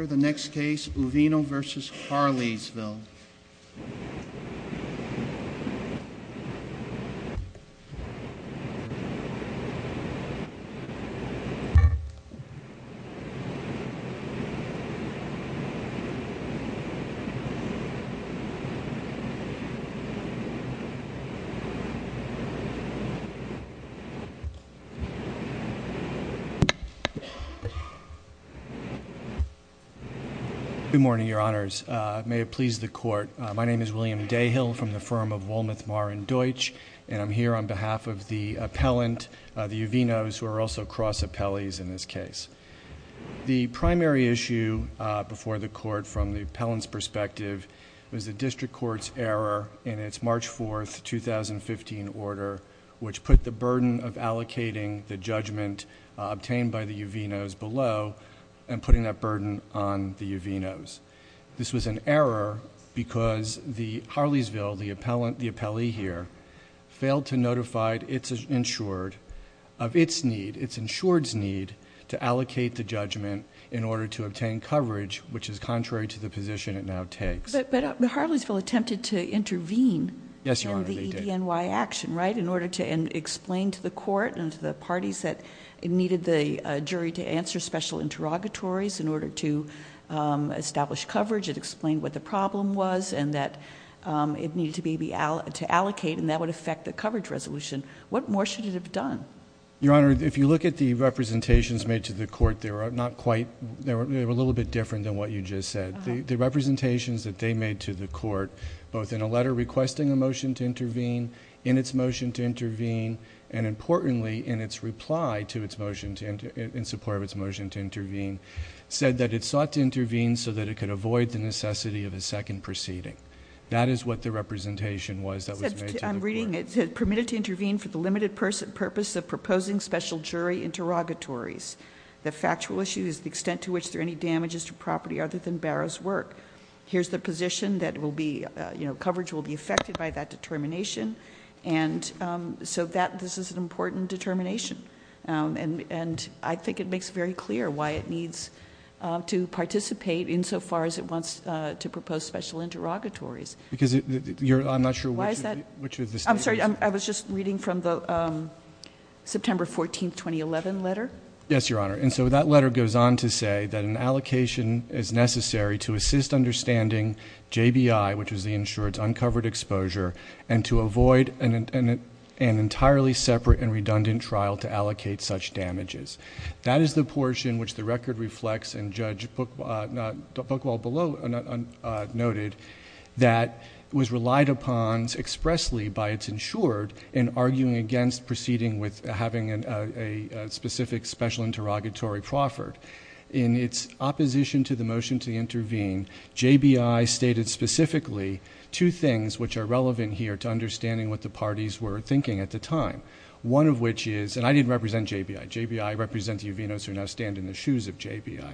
Uvino v. Harleysville. Good morning, your honors. May it please the court. My name is William Dayhill from the firm of Wolmuth, Marr & Deutsch, and I'm here on behalf of the appellant, the Uvinos, who are also cross appellees in this case. The primary issue before the court from the appellant's perspective was the district court's error in its March 4, 2015 order, which put the burden of allocating the judgment obtained by the Uvinos below and putting that burden on the Uvinos. This was an error because the Harleysville, the appellee here, failed to notify its insured of its need, its insured's need, to allocate the judgment in order to obtain coverage, which is contrary to the position it now takes. But the Harleysville attempted to intervene in the EDNY action, right, in order to explain to the court and to the parties that needed the jury to answer special interrogatories in order to establish coverage. It explained what the problem was and that it needed to allocate and that would affect the coverage resolution. What more should it have done? Your honor, if you look at the representations made to the court, they were a little bit different than what you just said. The representations that they made to the court, both in a letter requesting a motion to intervene, in its motion to intervene, and importantly, in its reply to its motion, in support of its motion to intervene, said that it sought to intervene so that it could avoid the necessity of a second proceeding. That is what the representation was that was made to the court. I'm reading, it said, permitted to intervene for the limited purpose of proposing special jury interrogatories. The factual issue is the extent to which there are any damages to property other than Barrow's work. Here's the position that will be, you know, coverage will be affected by that determination. And so that, this is an important determination. And I think it makes very clear why it needs to participate insofar as it wants to propose special interrogatories. Because you're, I'm not sure which of the statements. I'm sorry, I was just reading from the September 14, 2011 letter. Yes, your honor. And so that letter goes on to say that an allocation is necessary to reduce the insured's uncovered exposure and to avoid an entirely separate and redundant trial to allocate such damages. That is the portion which the record reflects and Judge Buchwald noted that was relied upon expressly by its insured in arguing against proceeding with having a specific special interrogatory proffered. In its opposition to the motion to intervene, JBI stated specifically two things which are relevant here to understanding what the parties were thinking at the time. One of which is, and I didn't represent JBI. JBI represents the Uvinos who now stand in the shoes of JBI.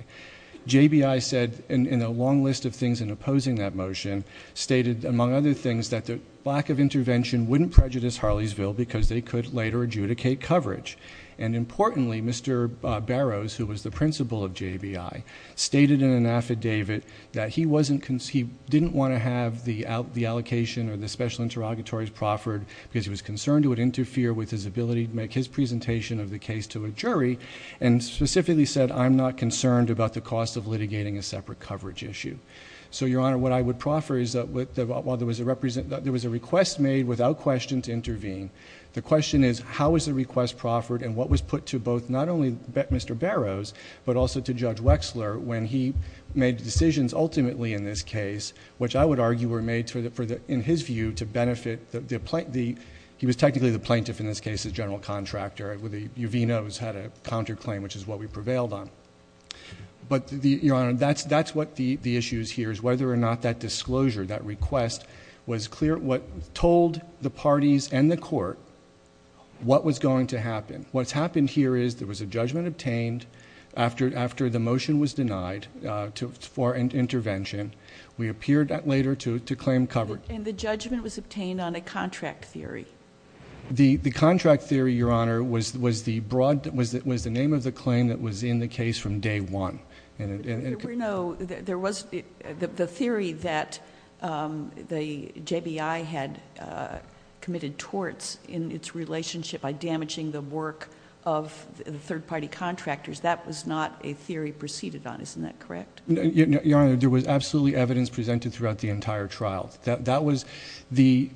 JBI said in a long list of things in opposing that motion stated among other things that the lack of intervention wouldn't prejudice Harleysville because they could later adjudicate coverage. And importantly, Mr. Barrows, who was the principal of JBI, stated in an affidavit that he didn't want to have the allocation or the special interrogatories proffered because he was concerned it would interfere with his ability to make his presentation of the case to a jury and specifically said, I'm not concerned about the cost of litigating a separate coverage issue. So your honor, what I would proffer is that while there was a request made without question to intervene, the question is how was the request proffered and what was put to both, not only Mr. Barrows, but also to Judge Wexler when he made decisions ultimately in this case, which I would argue were made for the, in his view, to benefit the, he was technically the plaintiff in this case, the general contractor. The Uvinos had a counterclaim, which is what we prevailed on. But your honor, that's what the issue here is, whether or not that disclosure, that request, was clear, told the parties and the court what was going to happen. What's happened here is there was a judgment obtained after the motion was denied for intervention. We appeared later to claim coverage... And the judgment was obtained on a contract theory? The contract theory, your honor, was the broad, was the name of the claim that was in the The theory that the JBI had committed torts in its relationship by damaging the work of the third party contractors, that was not a theory preceded on, isn't that correct? Your honor, there was absolutely evidence presented throughout the entire trial. That was the,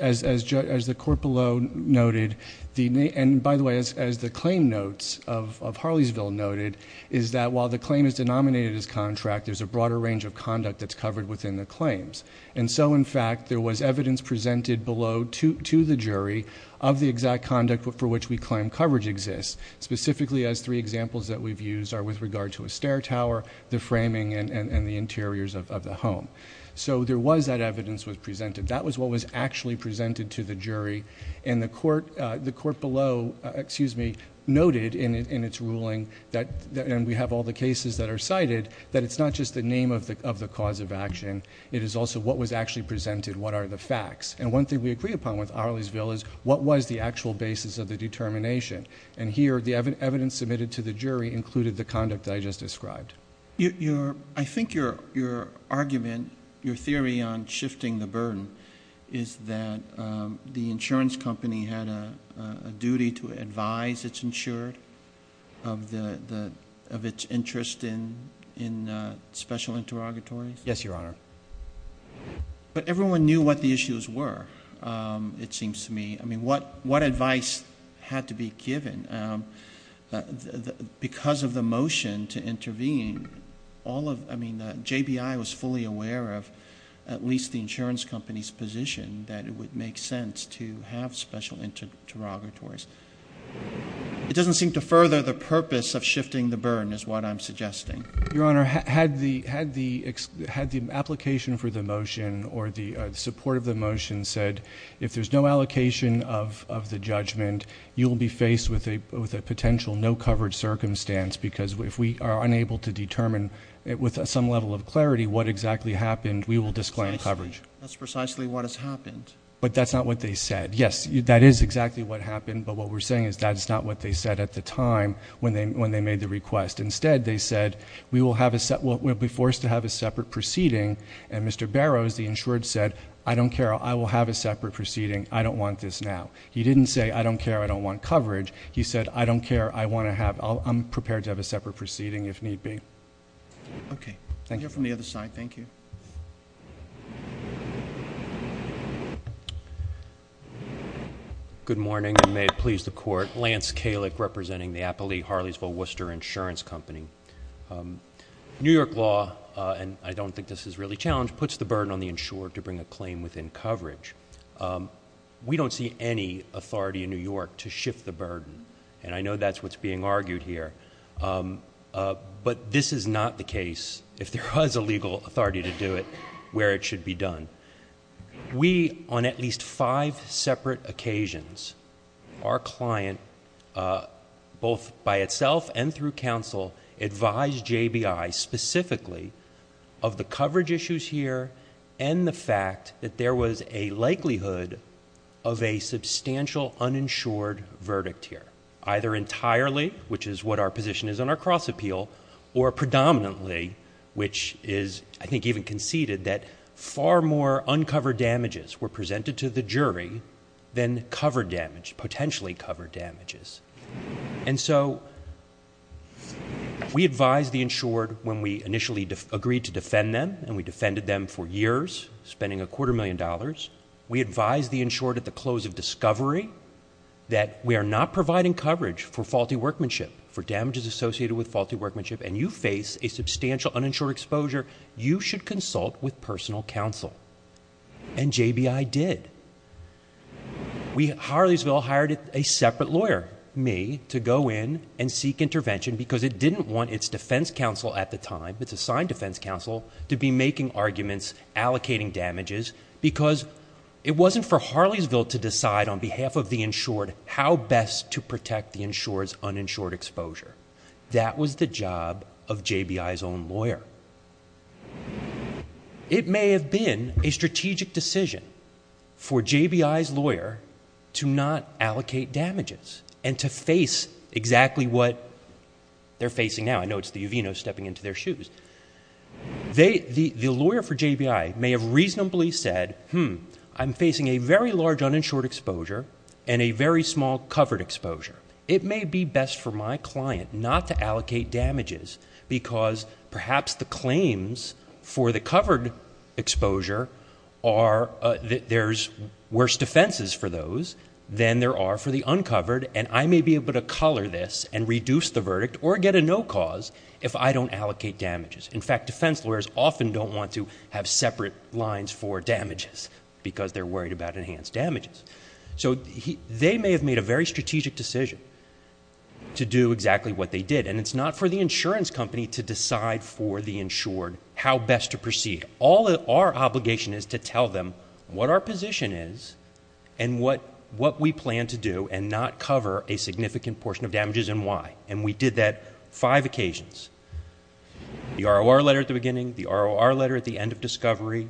as the court below noted, and by the way, as the claim notes of Harleysville noted, is that while the claim is denominated as contract, there's a broader range of conduct that's covered within the claims. And so in fact, there was evidence presented below to the jury of the exact conduct for which we claim coverage exists, specifically as three examples that we've used are with regard to a stair tower, the framing, and the interiors of the home. So there was that evidence was presented. That was what was actually presented to the jury. And the court, the court below, excuse me, noted in its ruling that, and we have all the cases that are cited, that it's not just the name of the cause of action. It is also what was actually presented. What are the facts? And one thing we agree upon with Harleysville is what was the actual basis of the determination? And here, the evidence submitted to the jury included the conduct that I just described. Your, your, I think your, your argument, your theory on shifting the burden is that, um, the insurance company had a, uh, a duty to advise its insured of the, the, of its interest in, in, uh, special interrogatories. Yes, Your Honor. But everyone knew what the issues were. Um, it seems to me, I mean, what, what advice had to be given, um, because of the motion to intervene all of, I mean, the JBI was fully aware of at least the insurance company's position that it would make sense to have special interrogatories. It doesn't seem to further the purpose of shifting the burden is what I'm suggesting. Your Honor, had the, had the, had the application for the motion or the support of the motion said if there's no allocation of, of the judgment, you will be faced with a, with a potential no coverage circumstance because if we are unable to determine it with some level of clarity, what exactly happened, we will disclaim coverage. That's precisely what has happened. But that's not what they said. Yes, that is exactly what happened. But what we're saying is that it's not what they said at the time when they, when they made the request. Instead, they said we will have a set, we'll be forced to have a separate proceeding. And Mr. Barrows, the insured said, I don't care. I will have a separate proceeding. I don't want this now. He didn't say, I don't care. I don't want coverage. He said, I don't care. I want to have, I'll, I'm prepared to have a separate proceeding if need be. Okay. I'll hear from the other side. Thank you. Good morning and may it please the court. Lance Kalick representing the Appalachee-Harleysville-Worcester Insurance Company. New York law, and I don't think this is really challenged, puts the insured to bring a claim within coverage. We don't see any authority in New York to shift the burden. And I know that's what's being argued here. But this is not the case if there was a legal authority to do it where it should be done. We, on at least five separate occasions, our client, both by itself and through counsel, advised JBI specifically of the coverage issues here and the fact that there was a likelihood of a substantial uninsured verdict here, either entirely, which is what our position is on our cross appeal, or predominantly, which is I think even conceded that far more uncovered damages were presented to the jury than covered damage, potentially covered damages. And so we advised the insured when we initially agreed to defend them, and we defended them for years, spending a quarter million dollars. We advised the insured at the close of discovery that we are not providing coverage for faulty workmanship, for damages associated with faulty workmanship, and you face a substantial uninsured exposure, you should consult with personal counsel. And JBI did. We at Harleysville hired a separate lawyer, me, to go in and seek intervention because it didn't want its defense counsel at the time, its assigned defense counsel, to be making arguments, allocating damages, because it wasn't for Harleysville to decide on behalf of the insured how best to protect the insurer's uninsured exposure. That was the job of JBI's own lawyer. It may have been a strategic decision for JBI's lawyer to not allocate damages and to not allocate damages for the insured exposure. I know it's the Uvino stepping into their shoes. The lawyer for JBI may have reasonably said, hmm, I'm facing a very large uninsured exposure and a very small covered exposure. It may be best for my client not to allocate damages because perhaps the claims for the covered exposure are that there's worse defenses for those than there are for the uncovered, and I may be able to color this and reduce the verdict or get a no cause if I don't allocate damages. In fact, defense lawyers often don't want to have separate lines for damages because they're worried about enhanced damages. So they may have made a very strategic decision to do exactly what they did, and it's not for the insurance company to decide for the insured how best to proceed. All our obligation is to tell them what our position is and what we plan to do and not cover a significant portion of damages and why. And we did that five occasions. The ROR letter at the beginning, the ROR letter at the end of discovery,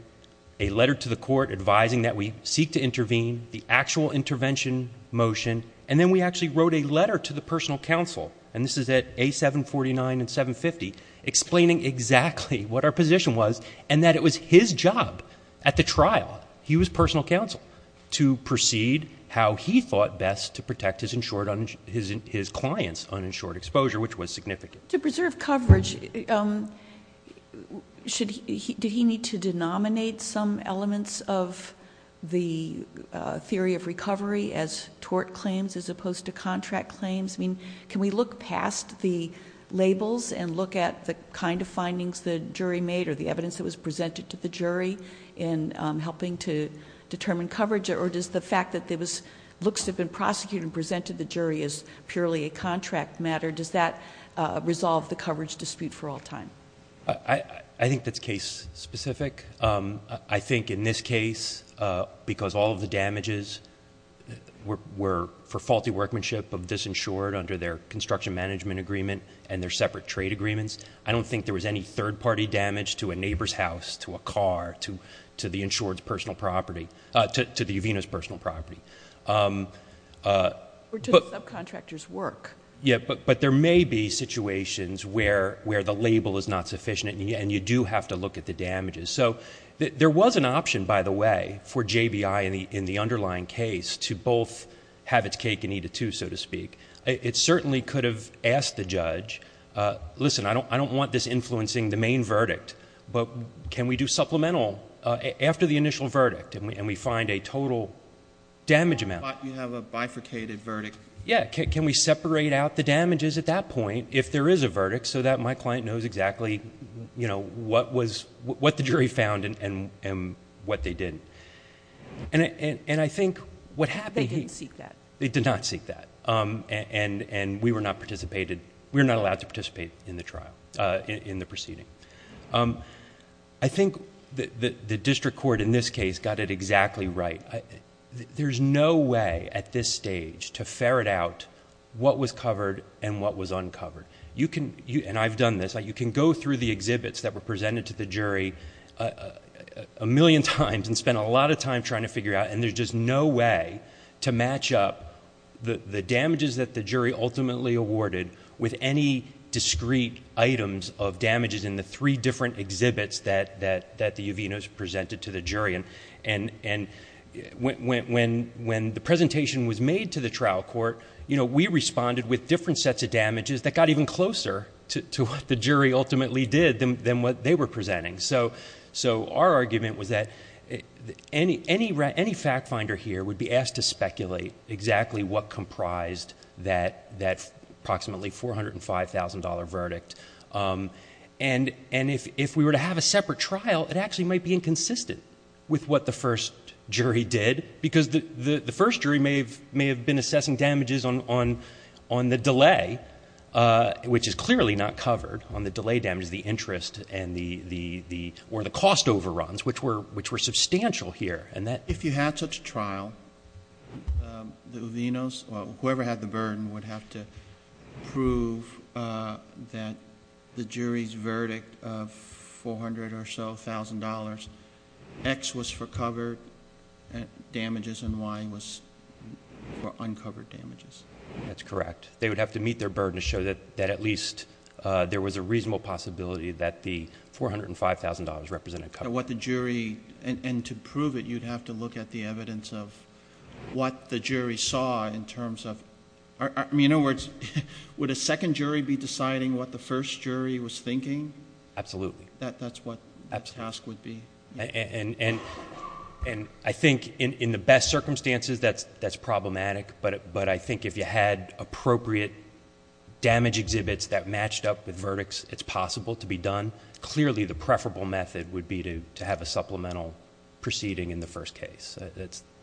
a letter to the court advising that we seek to intervene, the actual intervention motion, and then we actually wrote a letter to the personal counsel, and this is at A749 and 750, explaining exactly what our position was and that it was his job at the trial, he was personal counsel, to proceed how he thought best to protect his client's uninsured exposure, which was significant. To preserve coverage, did he need to denominate some elements of the theory of recovery as tort claims as opposed to contract claims? Can we look past the labels and look at the kind of findings the jury made or the evidence that was presented to the jury in helping to determine coverage, or does the fact that it looks to have been prosecuted and presented the jury as purely a contract matter, does that resolve the coverage dispute for all time? I think that's case specific. I think in this case, because all of the damages were for faulty workmanship of this insured under their construction management agreement and their separate trade agreements, I don't think there was any third-party damage to a neighbor's house, to a car, to the insured's personal property... to the Uvena's personal property. Or to the subcontractor's work. Yes, but there may be situations where the label is not sufficient and you do have to look at the damages. There was an option, by the way, for JBI in the underlying case to both have its cake and eat it too, so to speak. It certainly could have asked the judge, listen, I don't want this influencing the main verdict, but can we do supplemental after the initial verdict and we find a total damage amount? You have a bifurcated verdict. Yes. Can we separate out the damages at that point, if there is a verdict, so that my client knows exactly what the jury found and what they did? And I think what happened... They didn't seek that. They did not seek that. And we were not allowed to participate in the trial, in the proceeding. I think the district court in this case got it exactly right. There is no way at this stage to ferret out what was covered and what was uncovered. And I've done this. You can go through the exhibits that were presented to the jury a million times and spend a lot of time trying to figure out, and there's just no way to match up the damages that the jury ultimately awarded with any discrete items of damages in the three different exhibits that the Uvinas presented to the jury. And when the presentation was made to the trial court, we responded with different sets of damages that got even closer to what the jury ultimately did than what they were presenting. So our argument was that any fact finder here would be asked to speculate exactly what comprised that approximately $405,000 verdict. And if we were to have a separate trial, it actually might be inconsistent with what the first jury did because the first jury may have been assessing damages on the delay, which is clearly not covered, on the delay damages, the interest, or the cost overruns, which were substantial here. If you had such a trial, the Uvinas, or whoever had the burden, would have to prove that the jury's verdict of $400,000 or so, X was for covered damages and Y was for uncovered damages. That's correct. They would have to meet their burden to show that at least there was a reasonable possibility that the $405,000 represented coverage. What the jury, and to prove it, you'd have to look at the evidence of what the jury saw in terms of, I mean, in other words, would a second jury be deciding what the first jury was thinking? Absolutely. That's what the task would be. And I think in the best circumstances, that's problematic, but I think if you had appropriate damage exhibits that matched up with verdicts, it's possible to be done. Clearly, the preferable method would be to have a supplemental proceeding in the first case.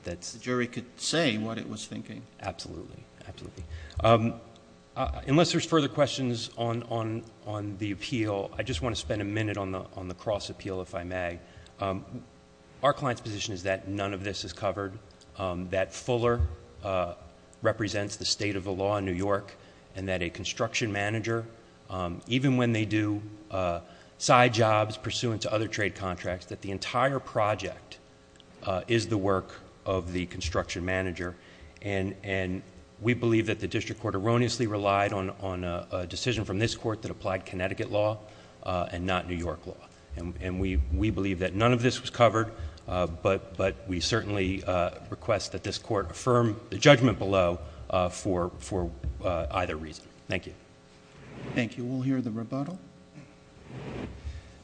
The jury could say what it was thinking. Absolutely. Absolutely. Unless there's further questions on the appeal, I just want to spend a minute on the cross appeal, if I may. Our client's position is that none of this is covered, that Fuller represents the state of the law in New York, and that a construction manager, even when they do side jobs pursuant to other trade contracts, that the entire project is the work of the construction manager. And we believe that the district court erroneously relied on a decision from this court that is not New York law. And we believe that none of this was covered, but we certainly request that this court affirm the judgment below for either reason. Thank you. Thank you. We'll hear the rebuttal.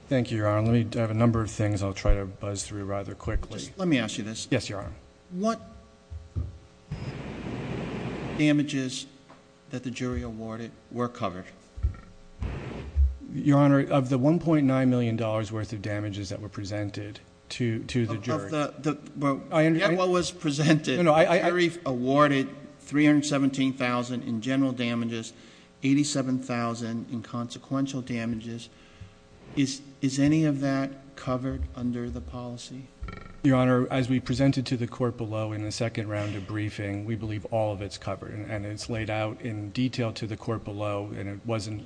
Thank you, Your Honor. I have a number of things I'll try to buzz through rather quickly. Let me ask you this. Yes, Your Honor. What damages that the jury awarded were covered? Your Honor, of the $1.9 million worth of damages that were presented to the jury... Of the... I understand... What was presented. No, no, I... The jury awarded $317,000 in general damages, $87,000 in consequential damages. Is any of that covered under the policy? Your Honor, as we presented to the court below in the second round of briefing, we believe all of it's covered, and it's laid out in detail to the court below, and it wasn't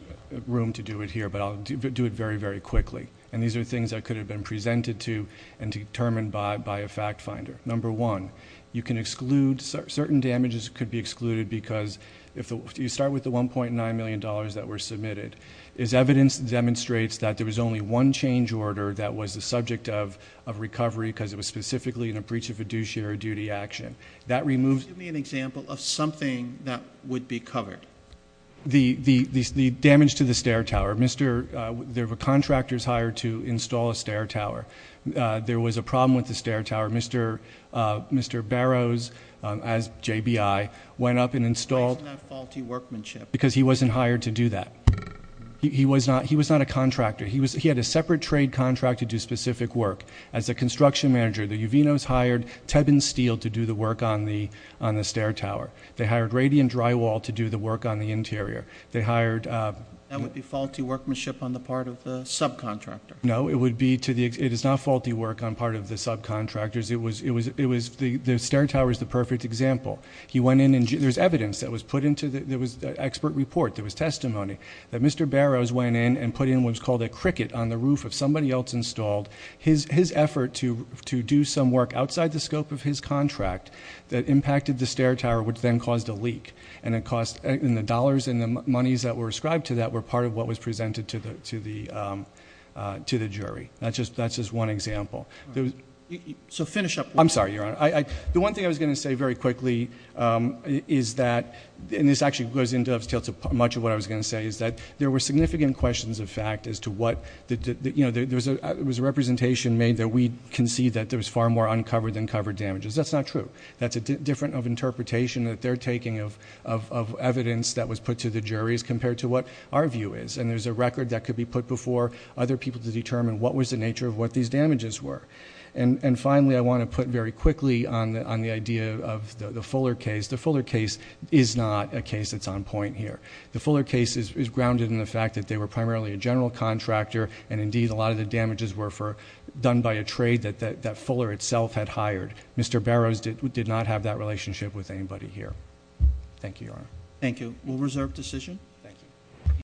room to do it here, but I'll do it very, very quickly. And these are things that could have been presented to and determined by a fact finder. Number one, you can exclude... certain damages could be excluded because if you start with the $1.9 million that were submitted, as evidence demonstrates that there was only one change order that was the subject of recovery because it was specifically in a breach of fiduciary duty action. That removes... Well, of something that would be covered. The damage to the stair tower. There were contractors hired to install a stair tower. There was a problem with the stair tower. Mr. Barrows, as JBI, went up and installed... Why isn't that faulty workmanship? Because he wasn't hired to do that. He was not a contractor. He had a separate trade contract to do specific work. As a construction manager, the Uvinos hired Tebben Steel to do the work on the stair tower. They hired Radian Drywall to do the work on the interior. They hired... That would be faulty workmanship on the part of the subcontractor. No, it would be... it is not faulty work on part of the subcontractors. The stair tower is the perfect example. He went in and... there's evidence that was put into the... there was expert report. There was testimony that Mr. Barrows went in and put in what was called a cricket on the roof of somebody else installed. His effort to do some work outside the scope of his contract that impacted the stair tower, which then caused a leak. And it cost... and the dollars and the monies that were ascribed to that were part of what was presented to the jury. That's just one example. So finish up... I'm sorry, Your Honor. The one thing I was going to say very quickly is that... and this actually goes into much of what I was going to say is that there were significant questions of fact as to what... you know, there was a representation made that we concede that there was far more uncovered than covered damages. That's not true. That's a different of interpretation that they're taking of evidence that was put to the juries compared to what our view is. And there's a record that could be put before other people to determine what was the nature of what these damages were. And finally, I want to put very quickly on the idea of the Fuller case. The Fuller case is not a case that's on point here. The Fuller case is grounded in the fact that they were primarily a general contractor and indeed a lot of the damages were for... done by a trade that Fuller itself had hired. Mr. Barrows did not have that relationship with anybody here. Thank you, Your Honor. Thank you. We'll reserve decision.